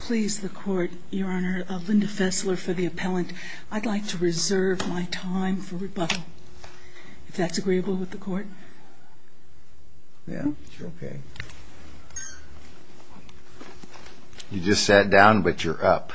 Please, the Court, Your Honor, Linda Fessler for the appellant. I'd like to reserve my time for rebuttal. If that's agreeable with the Court. Yeah, sure, okay. You just sat down, but you're up.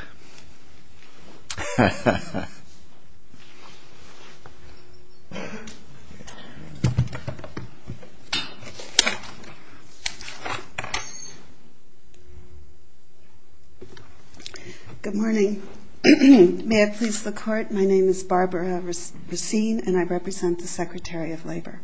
Good morning. May it please the Court, my name is Barbara Racine and I represent the Secretary of Labor.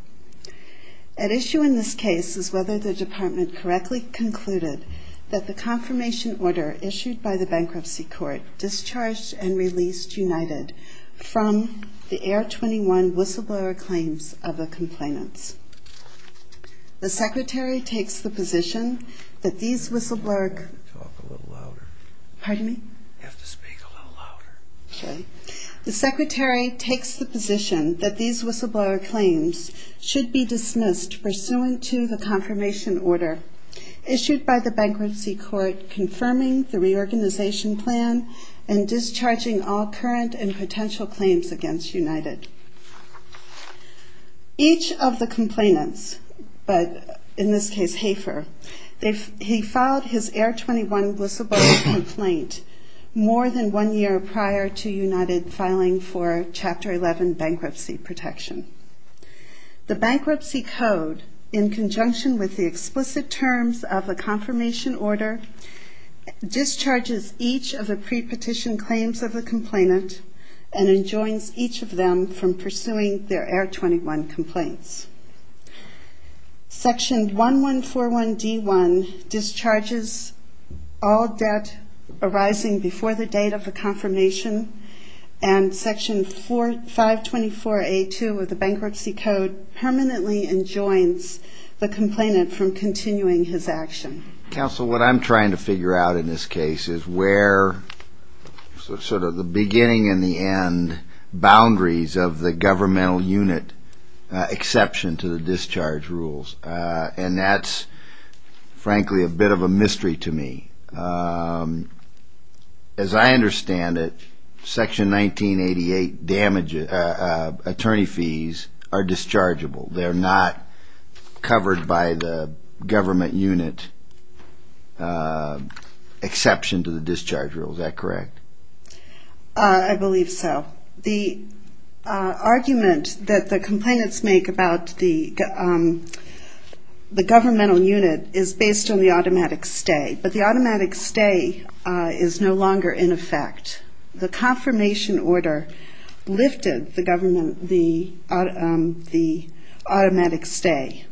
At issue in this case is whether the Department correctly concluded that the confirmation order issued by the Bankruptcy Court discharged and released United from the Air 21 whistleblower claims of the complainants. The Secretary takes the position that these whistleblower... Talk a little louder. Pardon me? You have to speak a little louder. The Secretary takes the position that these whistleblower claims should be dismissed pursuant to the confirmation order issued by the Bankruptcy Court confirming the reorganization plan and discharging all current and potential claims against United. Each of the complainants, but in this case Hafer, he filed his Air 21 whistleblower complaint more than one year prior to United filing for Chapter 11 bankruptcy protection. The Bankruptcy Code, in conjunction with the explicit terms of the confirmation order, discharges each of the pre-petition claims of the complainant and enjoins each of them from pursuing their Air 21 complaints. Section 1141D1 discharges all debt arising before the date of the confirmation and Section 524A2 of the Bankruptcy Code permanently enjoins the complainant from continuing his action. Counsel, what I'm trying to figure out in this case is where sort of the beginning and the end boundaries of the governmental unit exception to the discharge rules, and that's frankly a bit of a mystery to me. As I understand it, Section 1988 damage attorney fees are dischargeable, they're not covered by the government unit exception to the discharge rule, is that correct? I believe so. The argument that the complainants make about the governmental unit is based on the automatic stay, but the automatic stay is no longer in effect. The confirmation order lifted the automatic stay.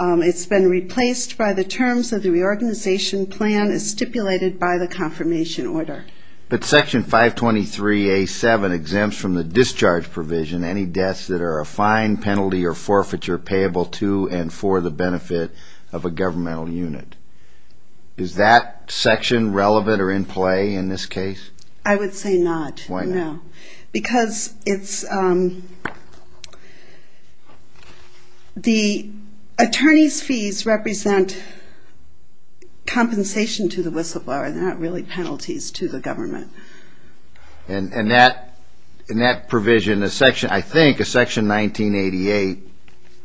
It's been replaced by the terms of the reorganization plan as stipulated by the confirmation order. But Section 523A7 exempts from the discharge provision any debts that are a fine, penalty, or forfeiture payable to and for the benefit of a governmental unit. Is that section relevant or in play in this case? I would say not, no. Because the attorney's fees represent compensation to the whistleblower, they're not really penalties to the government. And that provision, I think a Section 1988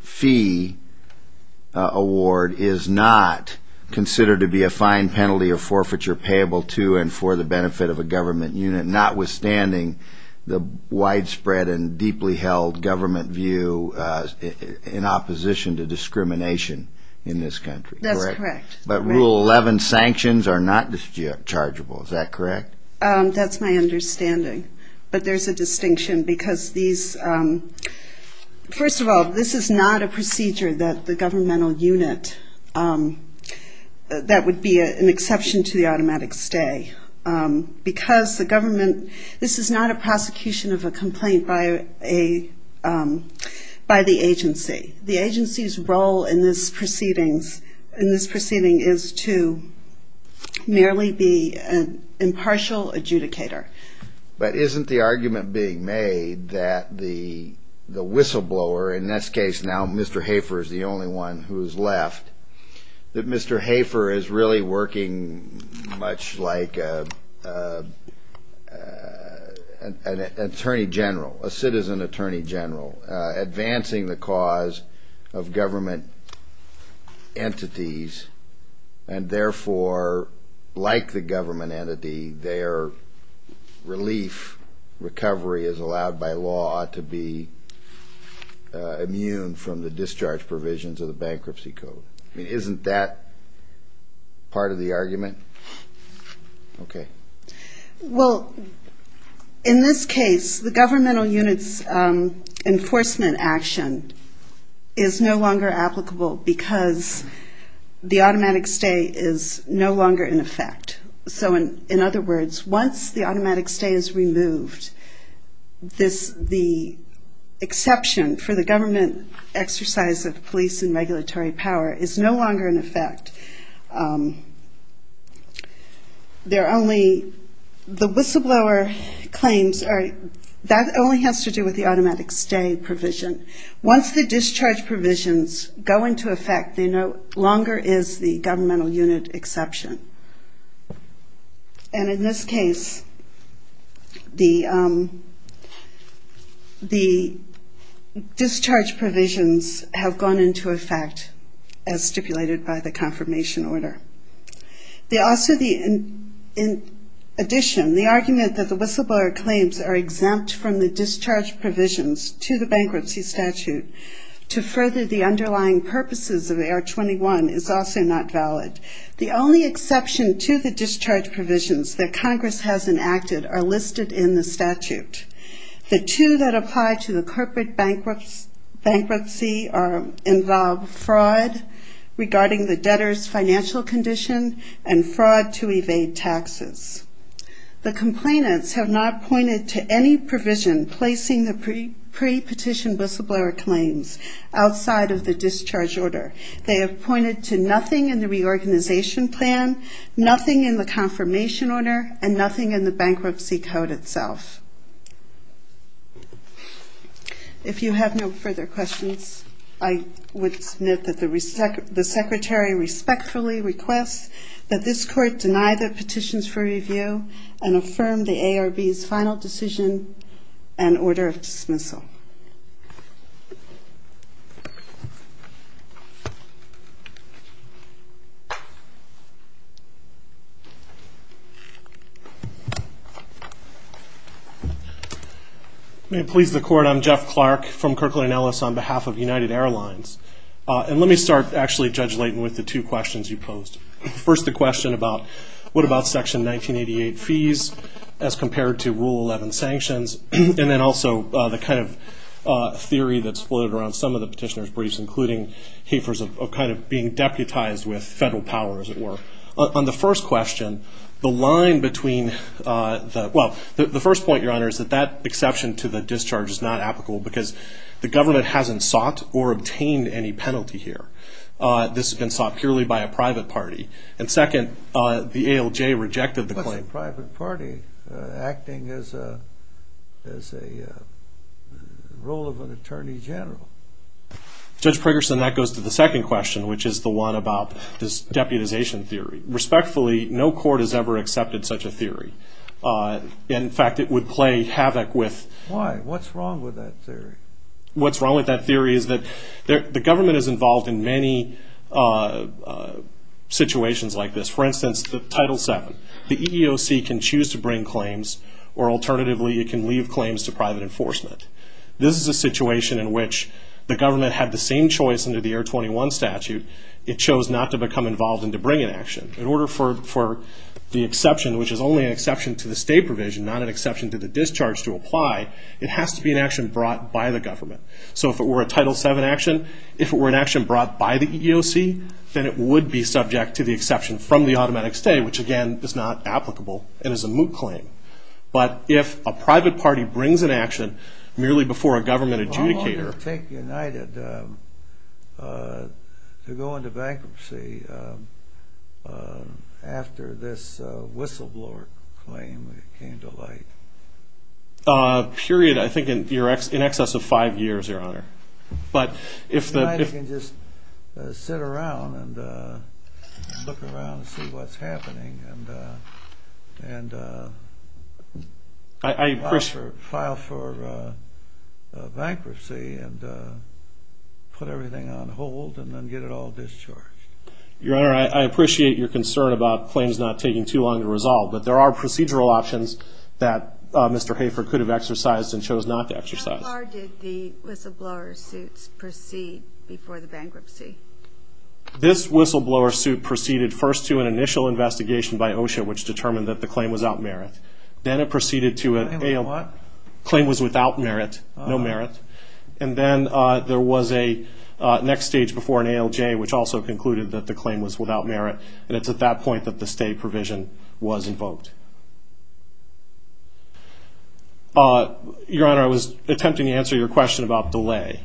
fee award is not considered to be a fine, penalty, or forfeiture payable to and for the benefit of a government unit, notwithstanding the widespread and deeply held government view in opposition to discrimination in this country, correct? That's correct. But Rule 11 sanctions are not dischargeable, is that correct? That's my understanding. But there's a distinction because these, first of all, this is not a procedure that the governmental unit, that would be an exception to the automatic stay, because the government, this is not a prosecution of a complaint by the agency. The agency's role in this proceedings, in this proceeding, is to merely be an impartial adjudicator. But isn't the argument being made that the whistleblower, in this case now Mr. Hafer is the only one who's left, that Mr. Hafer is really working much like an attorney general, a citizen attorney general, advancing the cause of government entities, and therefore, like the government entity, they are recovery is allowed by law to be immune from the discharge provisions of the bankruptcy code. I mean, isn't that part of the argument? Okay. Well, in this case, the governmental unit's enforcement action is no longer applicable because the automatic stay is no longer in effect. So in other words, once the automatic stay is removed, the exception for the government exercise of police and regulatory power is no longer in effect. There are only, the whistleblower claims are, that only has to do with the automatic stay provision. Once the discharge provisions go into effect, there no longer is the governmental unit exception. And in this case, the discharge provisions have gone into effect as stipulated by the confirmation order. In addition, the argument that the whistleblower claims are exempt from the discharge provisions to the bankruptcy statute to further the underlying purposes of AR-21 is also not valid. The only exception to the discharge provisions that Congress has enacted are listed in the statute. The two that apply to the corporate bankruptcy involve fraud regarding the debtor's financial condition and fraud to evade taxes. The complainants have not pointed to any provision placing the pre-petition whistleblower claims outside of the discharge order. They have pointed to nothing in the reorganization plan, nothing in the confirmation order, and nothing in the bankruptcy code itself. If you have no further questions, I would submit that the secretary respectfully requests that this court deny the petitions for review and affirm the ARB's final decision and order of dismissal. May it please the court, I'm Jeff Clark from Kirkland & Ellis on behalf of United Airlines. And let me start, actually, Judge Layton, with the two questions you posed. First the question about what about Section 1988 fees as compared to Rule 11 sanctions? And then also the kind of theory that's floated around some of the petitioner's briefs, including heifers of kind of being deputized with federal power, as it were. On the first question, the line between the, well, the first point, Your Honor, is that that exception to the discharge is not applicable because the government hasn't sought or obtained any penalty here. This has been sought purely by a private party. And second, the ALJ rejected the claim. It's not a private party acting as a role of an attorney general. Judge Pregerson, that goes to the second question, which is the one about this deputization theory. Respectfully, no court has ever accepted such a theory. In fact, it would play havoc with... Why? What's wrong with that theory? What's wrong with that theory is that the government is involved in many situations like this. For instance, Title VII. The EEOC can choose to bring claims, or alternatively, it can leave claims to private enforcement. This is a situation in which the government had the same choice under the Air 21 statute. It chose not to become involved and to bring an action. In order for the exception, which is only an exception to the state provision, not an exception to the discharge to apply, it has to be an action brought by the government. So if it were a Title VII action, if it were an action brought by the EEOC, then it would be subject to the exception from the automatic stay, which again is not applicable and is a moot claim. But if a private party brings an action merely before a government adjudicator... How long did it take United to go into bankruptcy after this whistleblower claim came to light? A period, I think, in excess of five years, Your Honor. United can just sit around and look around and see what's happening and file for bankruptcy and put everything on hold and then get it all discharged. Your Honor, I appreciate your concern about claims not taking too long to resolve, but there are procedural options that Mr. Hafer could have exercised and chose not to exercise. How far did the whistleblower suit proceed before the bankruptcy? This whistleblower suit proceeded first to an initial investigation by OSHA, which determined that the claim was without merit. Then it proceeded to a... A what? Claim was without merit, no merit. And then there was a next stage before an ALJ, which also concluded that the claim was without merit. And it's at that point that the stay provision was invoked. Your Honor, I was attempting to answer your question about delay.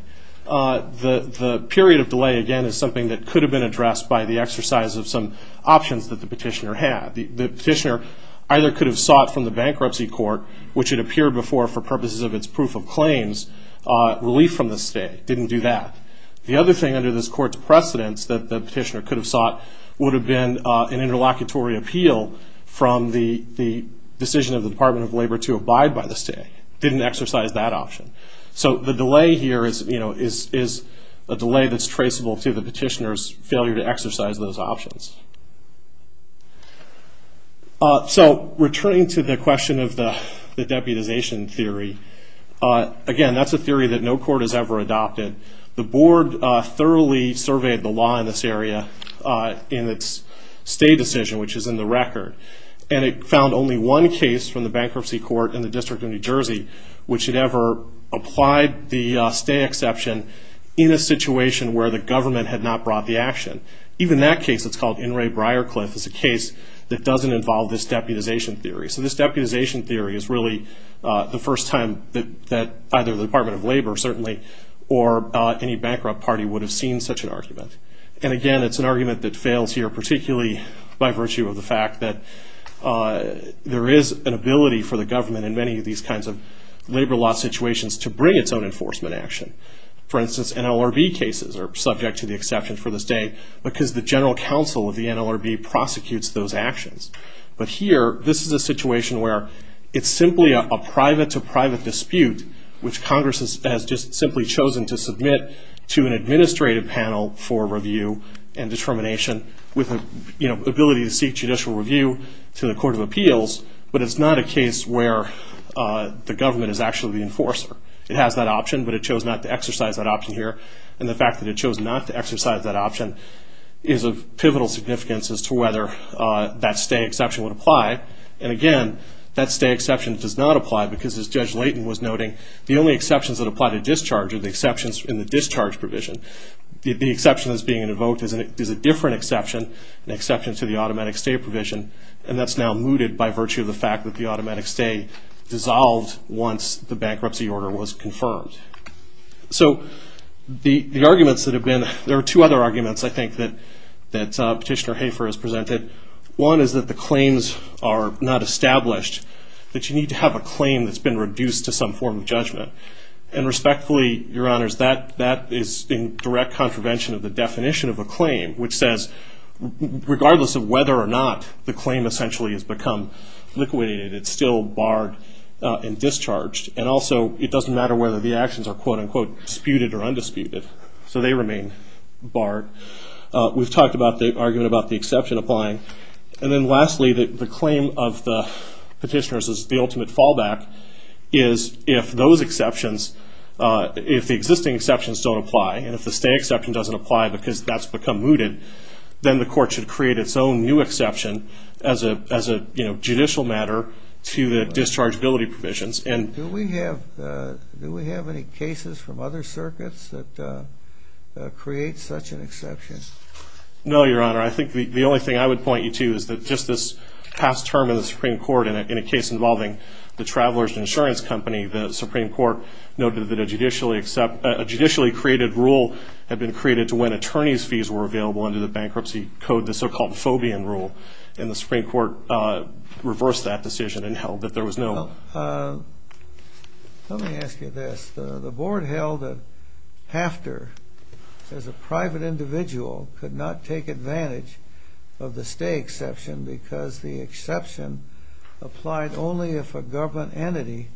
The period of delay, again, is something that could have been addressed by the exercise of some options that the petitioner had. The petitioner either could have sought from the bankruptcy court, which had appeared before for purposes of its proof of claims, relief from the stay. Didn't do that. The other thing under this court's precedence that the petitioner could have sought would have been an interlocutory appeal from the decision of the Department of Labor to abide by the stay. Didn't exercise that option. So the delay here is a delay that's traceable to the petitioner's failure to exercise those options. So returning to the question of the deputization theory, again, that's a theory that no court has ever adopted. The board thoroughly surveyed the law in this area in its stay decision, which is in the record. And it found only one case from the bankruptcy court in the District of New Jersey which had ever applied the stay exception in a situation where the government had not brought the action. Even that case that's called In re Briarcliff is a case that doesn't involve this deputization theory. So this deputization theory is really the first time that either the Department of Labor, certainly, or any bankrupt party would have seen such an argument. And again, it's an argument that fails here, particularly by virtue of the fact that there is an ability for the government in many of these kinds of labor law situations to bring its own enforcement action. For instance, NLRB cases are subject to the exception for the stay because the general counsel of the NLRB prosecutes those actions. But here, this is a situation where it's simply a private-to-private dispute which Congress has just simply chosen to submit to an administrative panel for review and determination with the ability to seek judicial review to the Court of Appeals. But it's not a case where the government is actually the enforcer. It has that option, but it chose not to exercise that option here. And the fact that it chose not to exercise that option is of pivotal significance as to whether that stay exception would apply. And again, that stay exception does not apply because, as Judge Layton was noting, the only exceptions that apply to discharge are the exceptions in the discharge provision. The exception that's being invoked is a different exception, an exception to the automatic stay provision. And that's now mooted by virtue of the fact that the automatic stay dissolved once the bankruptcy order was confirmed. So there are two other arguments, I think, that Petitioner Hafer has presented. One is that the claims are not established, that you need to have a claim that's been reduced to some form of judgment. And respectfully, Your Honors, that is in direct contravention of the definition of a claim, which says regardless of whether or not the claim essentially has become liquidated, it's still barred and discharged. And also, it doesn't matter whether the actions are, quote-unquote, disputed or undisputed. So they remain barred. We've talked about the argument about the exception applying. And then lastly, the claim of the petitioners is the ultimate fallback is if those exceptions, if the existing exceptions don't apply, and if the stay exception doesn't apply because that's become mooted, then the court should create its own new exception as a judicial matter to the dischargeability provisions. Do we have any cases from other circuits that create such an exception? No, Your Honor. I think the only thing I would point you to is that just this past term in the Supreme Court in a case involving the Travelers Insurance Company, the Supreme Court noted that a judicially created rule had been created to when attorney's fees were available under the bankruptcy code, the so-called Fobian rule. And the Supreme Court reversed that decision and held that there was no... Well, let me ask you this. The board held that Hafter, as a private individual, could not take advantage of the stay exception because the exception applied only if a government entity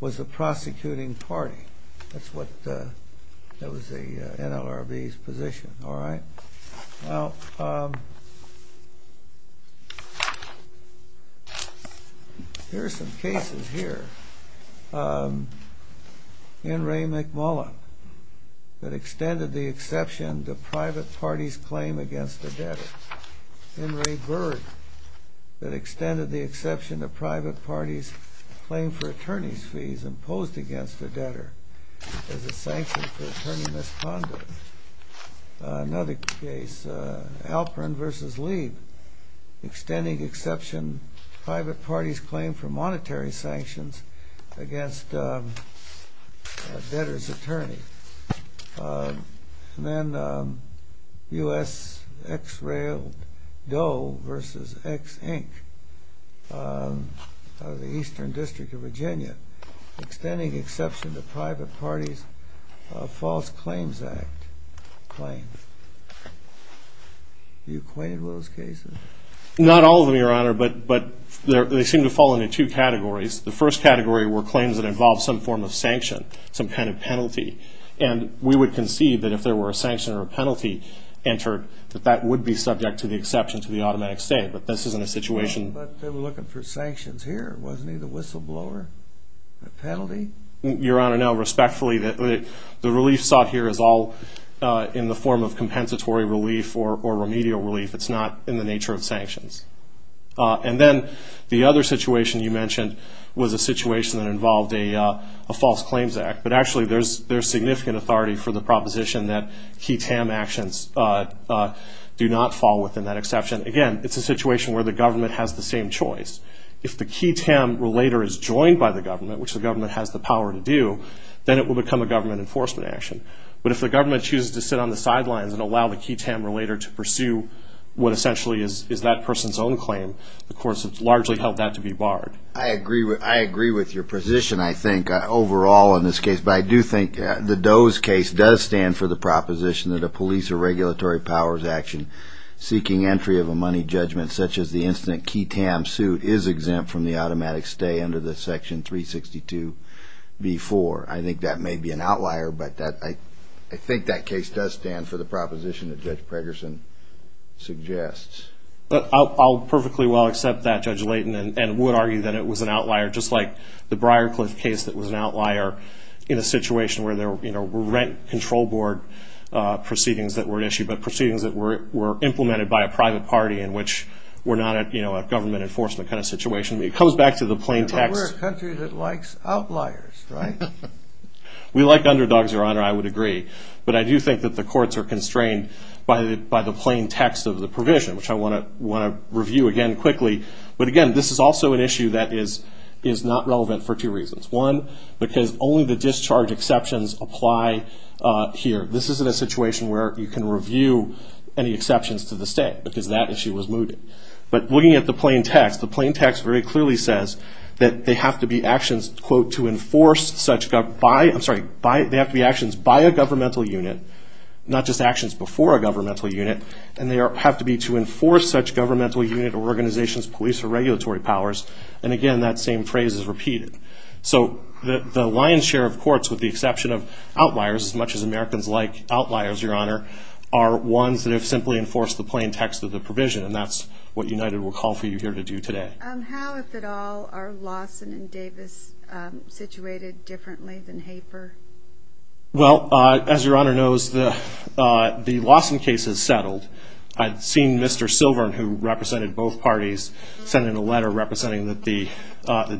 was the prosecuting party. That was the NLRB's position, all right? Now, here are some cases here. N. Ray McMullin, that extended the exception to private parties' claim against a debtor. N. Ray Berg, that extended the exception to private parties' claim for attorney's fees imposed against a debtor as a sanction for attorney misconduct. Another case, Alperin v. Leeb, extending exception to private parties' claim for monetary sanctions against a debtor's attorney. And then U.S. X-Rail Doe v. X-Inc. of the Eastern District of Virginia, extending the exception to private parties' False Claims Act claims. You acquainted with those cases? Not all of them, Your Honor, but they seem to fall into two categories. The first category were claims that involved some form of sanction, some kind of penalty. And we would concede that if there were a sanction or a penalty entered, that that would be subject to the exception to the automatic stay, but this isn't a situation... But they were looking for sanctions here, wasn't he, the whistleblower? A penalty? Your Honor, no. Respectfully, the relief sought here is all in the form of compensatory relief or remedial relief. It's not in the nature of sanctions. And then the other situation you mentioned was a situation that involved a False Claims Act, but actually there's significant authority for the proposition that key TAM actions do not fall within that exception. Again, it's a situation where the government has the same choice. If the key TAM relator is joined by the government, which the government has the power to do, then it will become a government enforcement action. But if the government chooses to sit on the sidelines and allow the key TAM relator to pursue what essentially is that person's own claim, of course it's largely held that to be barred. I agree with your position, I think, overall in this case. But I do think the Doe's case does stand for the proposition that a police or regulatory powers action seeking entry of a money judgment such as the instant key TAM suit is exempt from the automatic stay under the Section 362b-4. I think that may be an outlier, but I think that case does stand for the proposition that Judge Pregerson suggests. I'll perfectly well accept that, Judge Layton, and would argue that it was an outlier, just like the Briarcliff case that was an outlier in a situation where there were rent control board proceedings that were at issue, but proceedings that were implemented by a private party in which were not a government enforcement kind of situation. It comes back to the plain text. But we're a country that likes outliers, right? We like underdogs, Your Honor, I would agree. But I do think that the courts are constrained by the plain text of the provision, which I want to review again quickly. But again, this is also an issue that is not relevant for two reasons. One, because only the discharge exceptions apply here. This isn't a situation where you can review any exceptions to the state, because that issue was mooted. But looking at the plain text, the plain text very clearly says that they have to be actions, quote, to enforce such by, I'm sorry, they have to be actions by a governmental unit, not just actions before a governmental unit, and they have to be to enforce such governmental unit organizations, police, or regulatory powers. And again, that same phrase is repeated. So the lion's share of courts, with the exception of outliers, as much as Americans like outliers, Your Honor, are ones that have simply enforced the plain text of the provision, and that's what United will call for you here to do today. How, if at all, are Lawson and Davis situated differently than Haper? Well, as Your Honor knows, the Lawson case is settled. I've seen Mr. Silvern, who represented both parties, send in a letter representing that the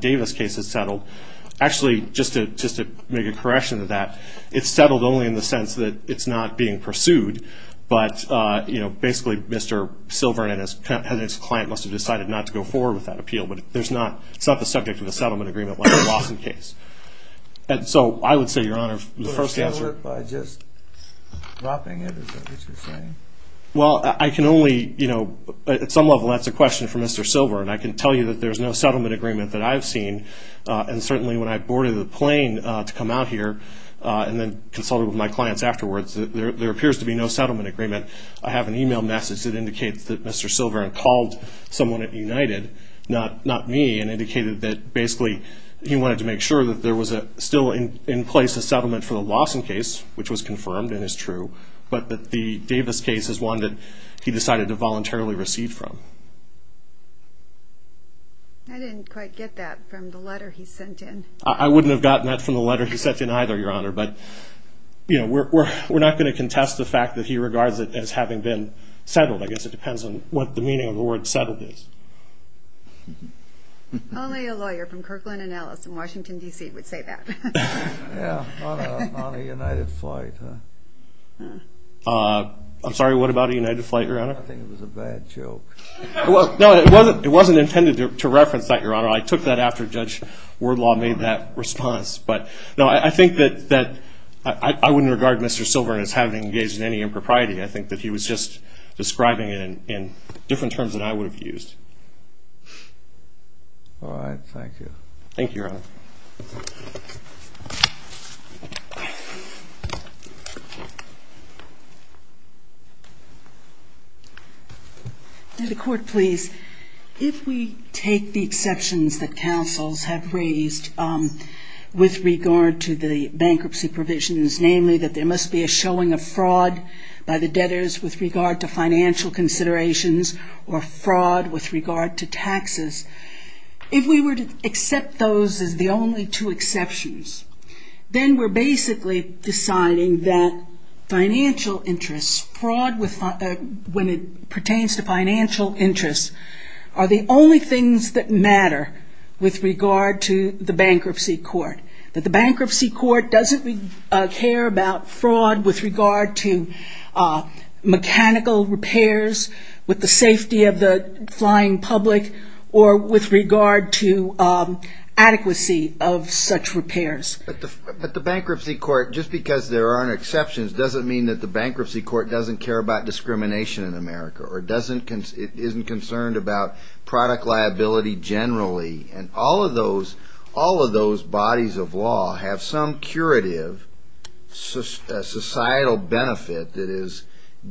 Davis case is settled. Actually, just to make a correction to that, it's settled only in the sense that it's not being pursued, but basically Mr. Silvern and his client must have decided not to go forward with that appeal, but it's not the subject of a settlement agreement like the Lawson case. And so I would say, Your Honor, the first answer – But it's settled by just dropping it, is that what you're saying? Well, I can only – at some level that's a question for Mr. Silvern. I can tell you that there's no settlement agreement that I've seen, and certainly when I boarded the plane to come out here and then consulted with my clients afterwards, there appears to be no settlement agreement. I have an email message that indicates that Mr. Silvern called someone at United, not me, and indicated that basically he wanted to make sure that there was still in place a settlement for the Lawson case, which was confirmed and is true, but that the Davis case is one that he decided to voluntarily recede from. I didn't quite get that from the letter he sent in. I wouldn't have gotten that from the letter he sent in either, Your Honor, but we're not going to contest the fact that he regards it as having been settled. I guess it depends on what the meaning of the word settled is. Only a lawyer from Kirkland & Ellis in Washington, D.C. would say that. Yeah, on a United flight, huh? I'm sorry, what about a United flight, Your Honor? I think it was a bad joke. No, it wasn't intended to reference that, Your Honor. I took that after Judge Wardlaw made that response. No, I think that I wouldn't regard Mr. Silvern as having engaged in any impropriety. I think that he was just describing it in different terms than I would have used. All right, thank you. Thank you, Your Honor. To the Court, please. If we take the exceptions that counsels have raised with regard to the bankruptcy provisions, namely that there must be a showing of fraud by the debtors with regard to financial considerations or fraud with regard to taxes, if we were to accept those as the only two exceptions, then we're basically deciding that financial interests, fraud when it pertains to financial interests, are the only things that matter with regard to the bankruptcy court, that the bankruptcy court doesn't care about fraud with regard to mechanical repairs, with the safety of the flying public, or with regard to adequacy of such repairs. But the bankruptcy court, just because there aren't exceptions, doesn't mean that the bankruptcy court doesn't care about discrimination in America or isn't concerned about product liability generally. And all of those bodies of law have some curative societal benefit that is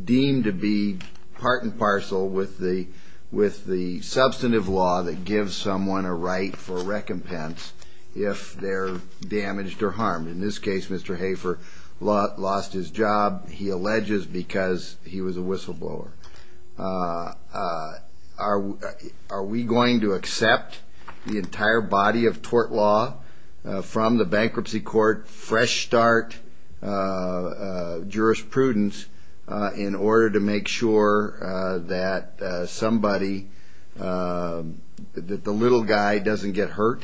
deemed to be part and parcel with the substantive law that gives someone a right for recompense if they're damaged or harmed. In this case, Mr. Hafer lost his job, he alleges, because he was a whistleblower. Are we going to accept the entire body of tort law from the bankruptcy court, fresh start jurisprudence, in order to make sure that the little guy doesn't get hurt?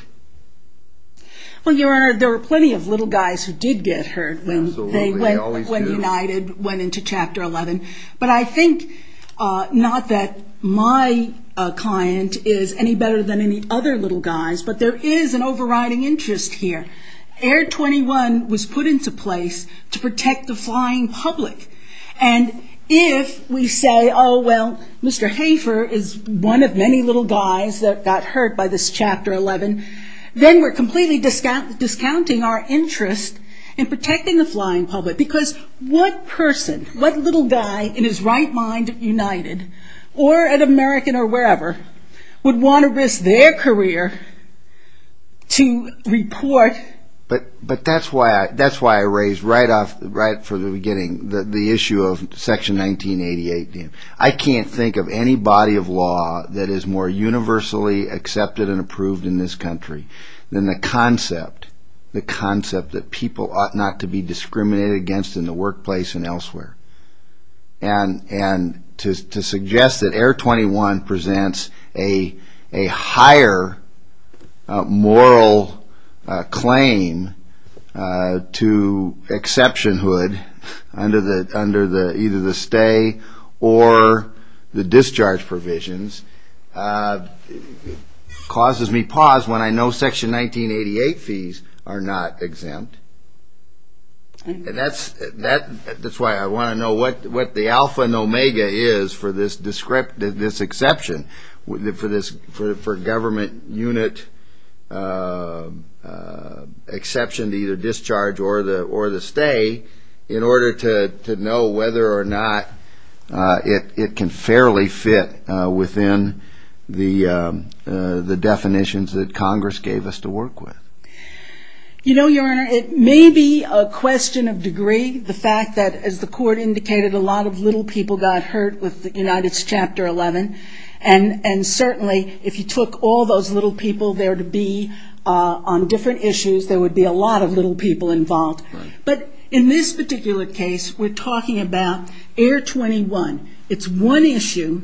Well, Your Honor, there were plenty of little guys who did get hurt when United went into Chapter 11. But I think, not that my client is any better than any other little guys, but there is an overriding interest here. Air 21 was put into place to protect the flying public. And if we say, oh, well, Mr. Hafer is one of many little guys that got hurt by this Chapter 11, then we're completely discounting our interest in protecting the flying public. Because what person, what little guy in his right mind at United, or at American or wherever, would want to risk their career to report? But that's why I raised right off, right from the beginning, the issue of Section 1988. I can't think of any body of law that is more universally accepted and approved in this country than the concept, the concept that people ought not to be discriminated against in the workplace and elsewhere. And to suggest that Air 21 presents a higher moral claim to exceptionhood under either the stay or the discharge provisions, causes me pause when I know Section 1988 fees are not exempt. And that's why I want to know what the alpha and omega is for this exception, for government unit exception to either discharge or the stay, in order to know whether or not it can fairly fit within the definitions that Congress gave us to work with. You know, Your Honor, it may be a question of degree, the fact that, as the Court indicated, a lot of little people got hurt with United's Chapter 11. And certainly, if you took all those little people there to be on different issues, there would be a lot of little people involved. But in this particular case, we're talking about Air 21. It's one issue,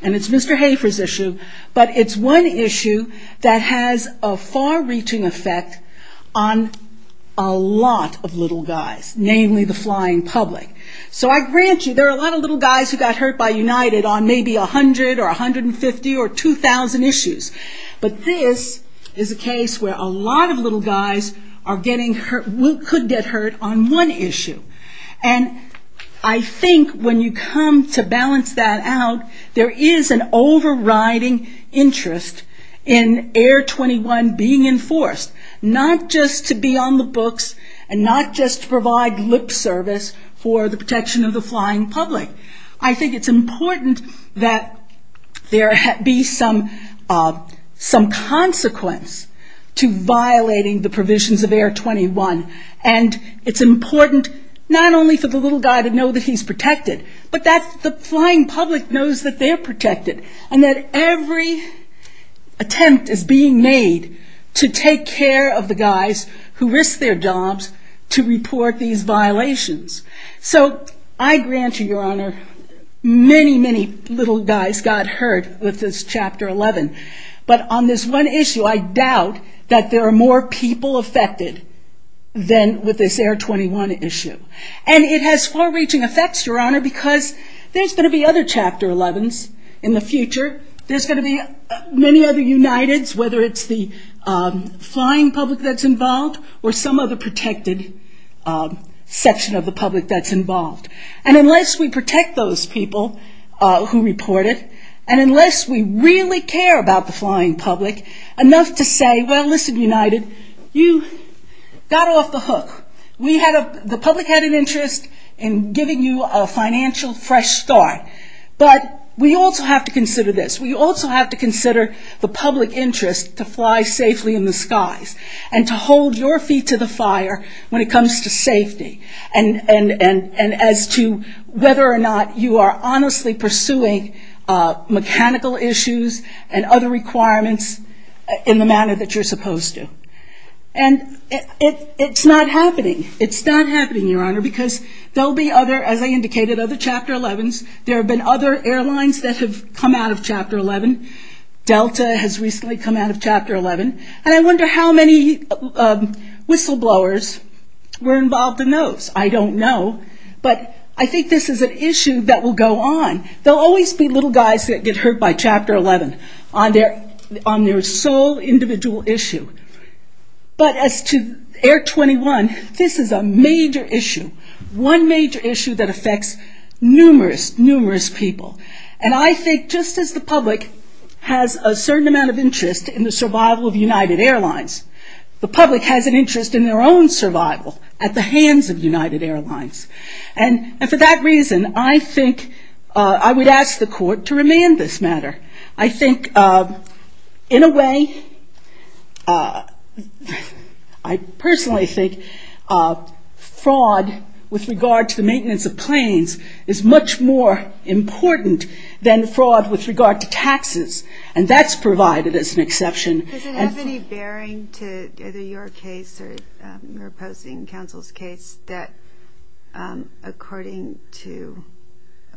and it's Mr. Hafer's issue, but it's one issue that has a far-reaching effect on a lot of little guys, namely the flying public. So I grant you, there are a lot of little guys who got hurt by United on maybe 100 or 150 or 2,000 issues. But this is a case where a lot of little guys could get hurt on one issue. And I think when you come to balance that out, there is an overriding interest in Air 21 being enforced, not just to be on the books and not just to provide lip service for the protection of the flying public. I think it's important that there be some consequence to violating the provisions of Air 21. And it's important not only for the little guy to know that he's protected, but that the flying public knows that they're protected and that every attempt is being made to take care of the guys who risk their jobs to report these violations. So I grant you, Your Honor, many, many little guys got hurt with this Chapter 11. But on this one issue, I doubt that there are more people affected than with this Air 21 issue. And it has far-reaching effects, Your Honor, because there's going to be other Chapter 11s in the future. There's going to be many other Uniteds, whether it's the flying public that's involved or some other protected section of the public that's involved. And unless we protect those people who report it, and unless we really care about the flying public, enough to say, well, listen, United, you got off the hook. The public had an interest in giving you a financial fresh start. But we also have to consider this. We also have to consider the public interest to fly safely in the skies and to hold your feet to the fire when it comes to safety. And as to whether or not you are honestly pursuing mechanical issues and other requirements in the manner that you're supposed to. And it's not happening. It's not happening, Your Honor, because there will be other, as I indicated, other Chapter 11s. There have been other airlines that have come out of Chapter 11. Delta has recently come out of Chapter 11. And I wonder how many whistleblowers were involved in those. I don't know. But I think this is an issue that will go on. There will always be little guys that get hurt by Chapter 11 on their sole individual issue. But as to Air 21, this is a major issue, one major issue that affects numerous, numerous people. And I think just as the public has a certain amount of interest in the survival of United Airlines, the public has an interest in their own survival at the hands of United Airlines. And for that reason, I think I would ask the Court to remand this matter. I think in a way, I personally think fraud with regard to the maintenance of planes is much more important than fraud with regard to taxes. And that's provided as an exception. Does it have any bearing to either your case or opposing counsel's case that according to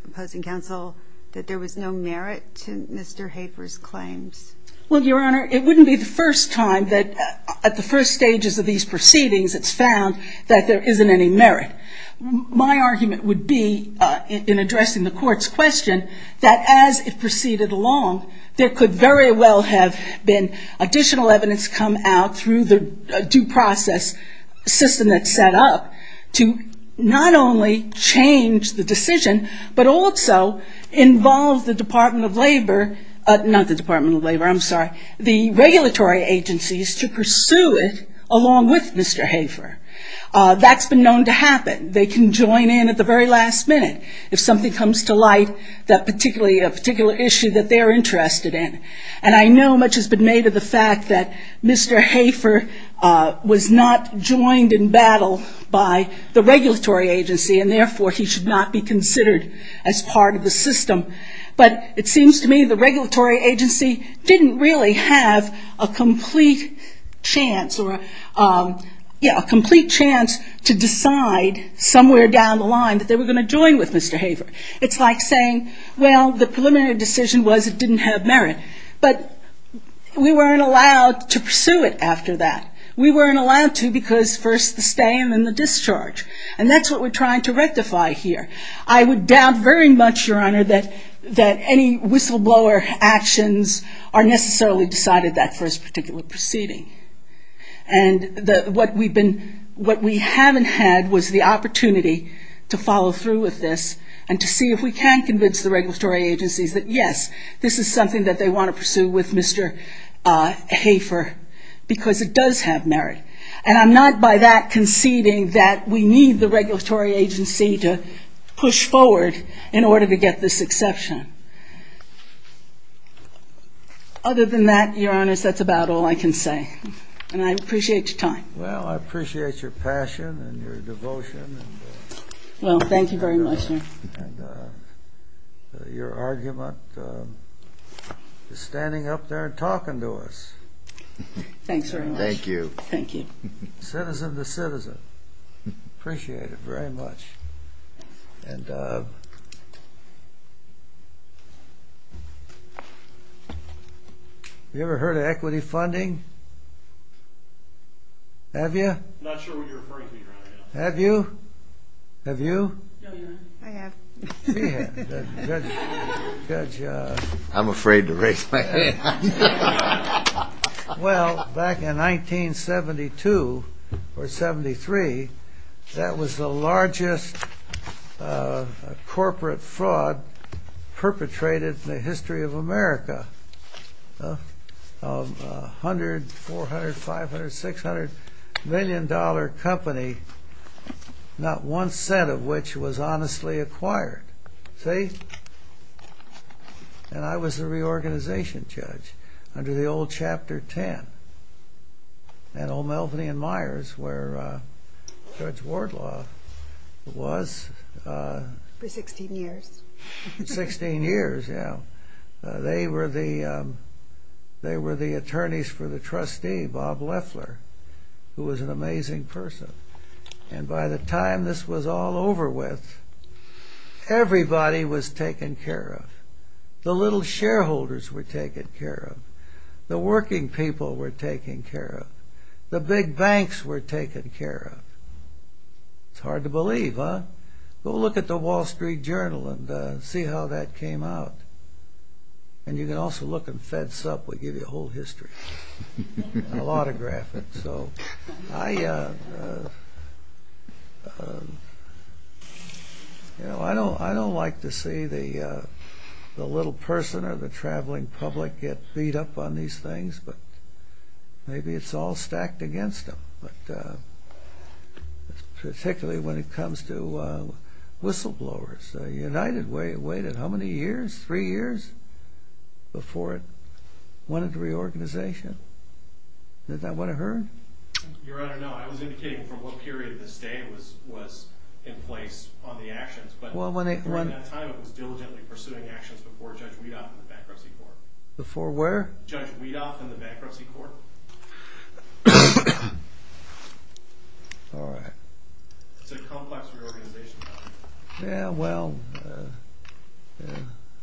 opposing counsel, that there was no merit to Mr. Hafer's claims? Well, Your Honor, it wouldn't be the first time that at the first stages of these proceedings, it's found that there isn't any merit. My argument would be in addressing the Court's question that as it proceeded along, there could very well have been additional evidence come out through the due process system that's set up to not only change the decision, but also involve the Department of Labor, not the Department of Labor, I'm sorry, the regulatory agencies to pursue it along with Mr. Hafer. That's been known to happen. They can join in at the very last minute if something comes to light, a particular issue that they're interested in. And I know much has been made of the fact that Mr. Hafer was not joined in battle by the regulatory agency, and therefore he should not be considered as part of the system. But it seems to me the regulatory agency didn't really have a complete chance to decide somewhere down the line that they were going to join with Mr. Hafer. It's like saying, well, the preliminary decision was it didn't have merit. But we weren't allowed to pursue it after that. We weren't allowed to because first the stay and then the discharge. And that's what we're trying to rectify here. I would doubt very much, Your Honor, that any whistleblower actions are necessarily decided that first particular proceeding. And what we haven't had was the opportunity to follow through with this and to see if we can convince the regulatory agencies that, yes, this is something that they want to pursue with Mr. Hafer because it does have merit. And I'm not by that conceding that we need the regulatory agency to push forward in order to get this exception. Other than that, Your Honor, that's about all I can say. And I appreciate your time. Well, I appreciate your passion and your devotion. Well, thank you very much, sir. And your argument is standing up there and talking to us. Thanks very much. Thank you. Thank you. Citizen to citizen. Appreciate it very much. And have you ever heard of equity funding? Have you? Not sure what you're referring to, Your Honor. Have you? Have you? I have. She has. Good job. I'm afraid to raise my hand. Well, back in 1972 or 73, that was the largest corporate fraud perpetrated in the history of America. A $100, $400, $500, $600 million company, not one cent of which was honestly acquired. See? And I was the reorganization judge under the old Chapter 10 at O'Melveny and Myers where Judge Wardlaw was. For 16 years. 16 years, yeah. They were the attorneys for the trustee, Bob Leffler, who was an amazing person. And by the time this was all over with, everybody was taken care of. The little shareholders were taken care of. The working people were taken care of. The big banks were taken care of. It's hard to believe, huh? Go look at the Wall Street Journal and see how that came out. And you can also look at Fed Supp. We'll give you a whole history. A lot of graphics. I don't like to see the little person or the traveling public get beat up on these things, but maybe it's all stacked against them, particularly when it comes to whistleblowers. The United Way waited how many years? Three years before it went into reorganization. Is that what I heard? Your Honor, no. I was indicating from what period of this day it was in place on the actions, but during that time it was diligently pursuing actions before Judge Weedoff in the Bankruptcy Court. Before where? Judge Weedoff in the Bankruptcy Court. All right. It's a complex reorganization. Yeah, well,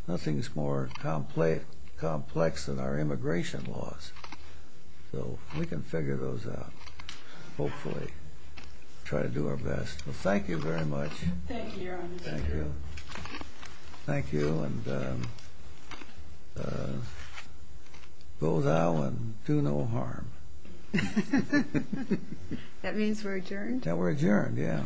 nothing's more complex than our immigration laws. So we can figure those out, hopefully. Try to do our best. Well, thank you very much. Thank you, Your Honor. Thank you. Thank you, and go thou and do no harm. That means we're adjourned? Yeah, we're adjourned. Yeah.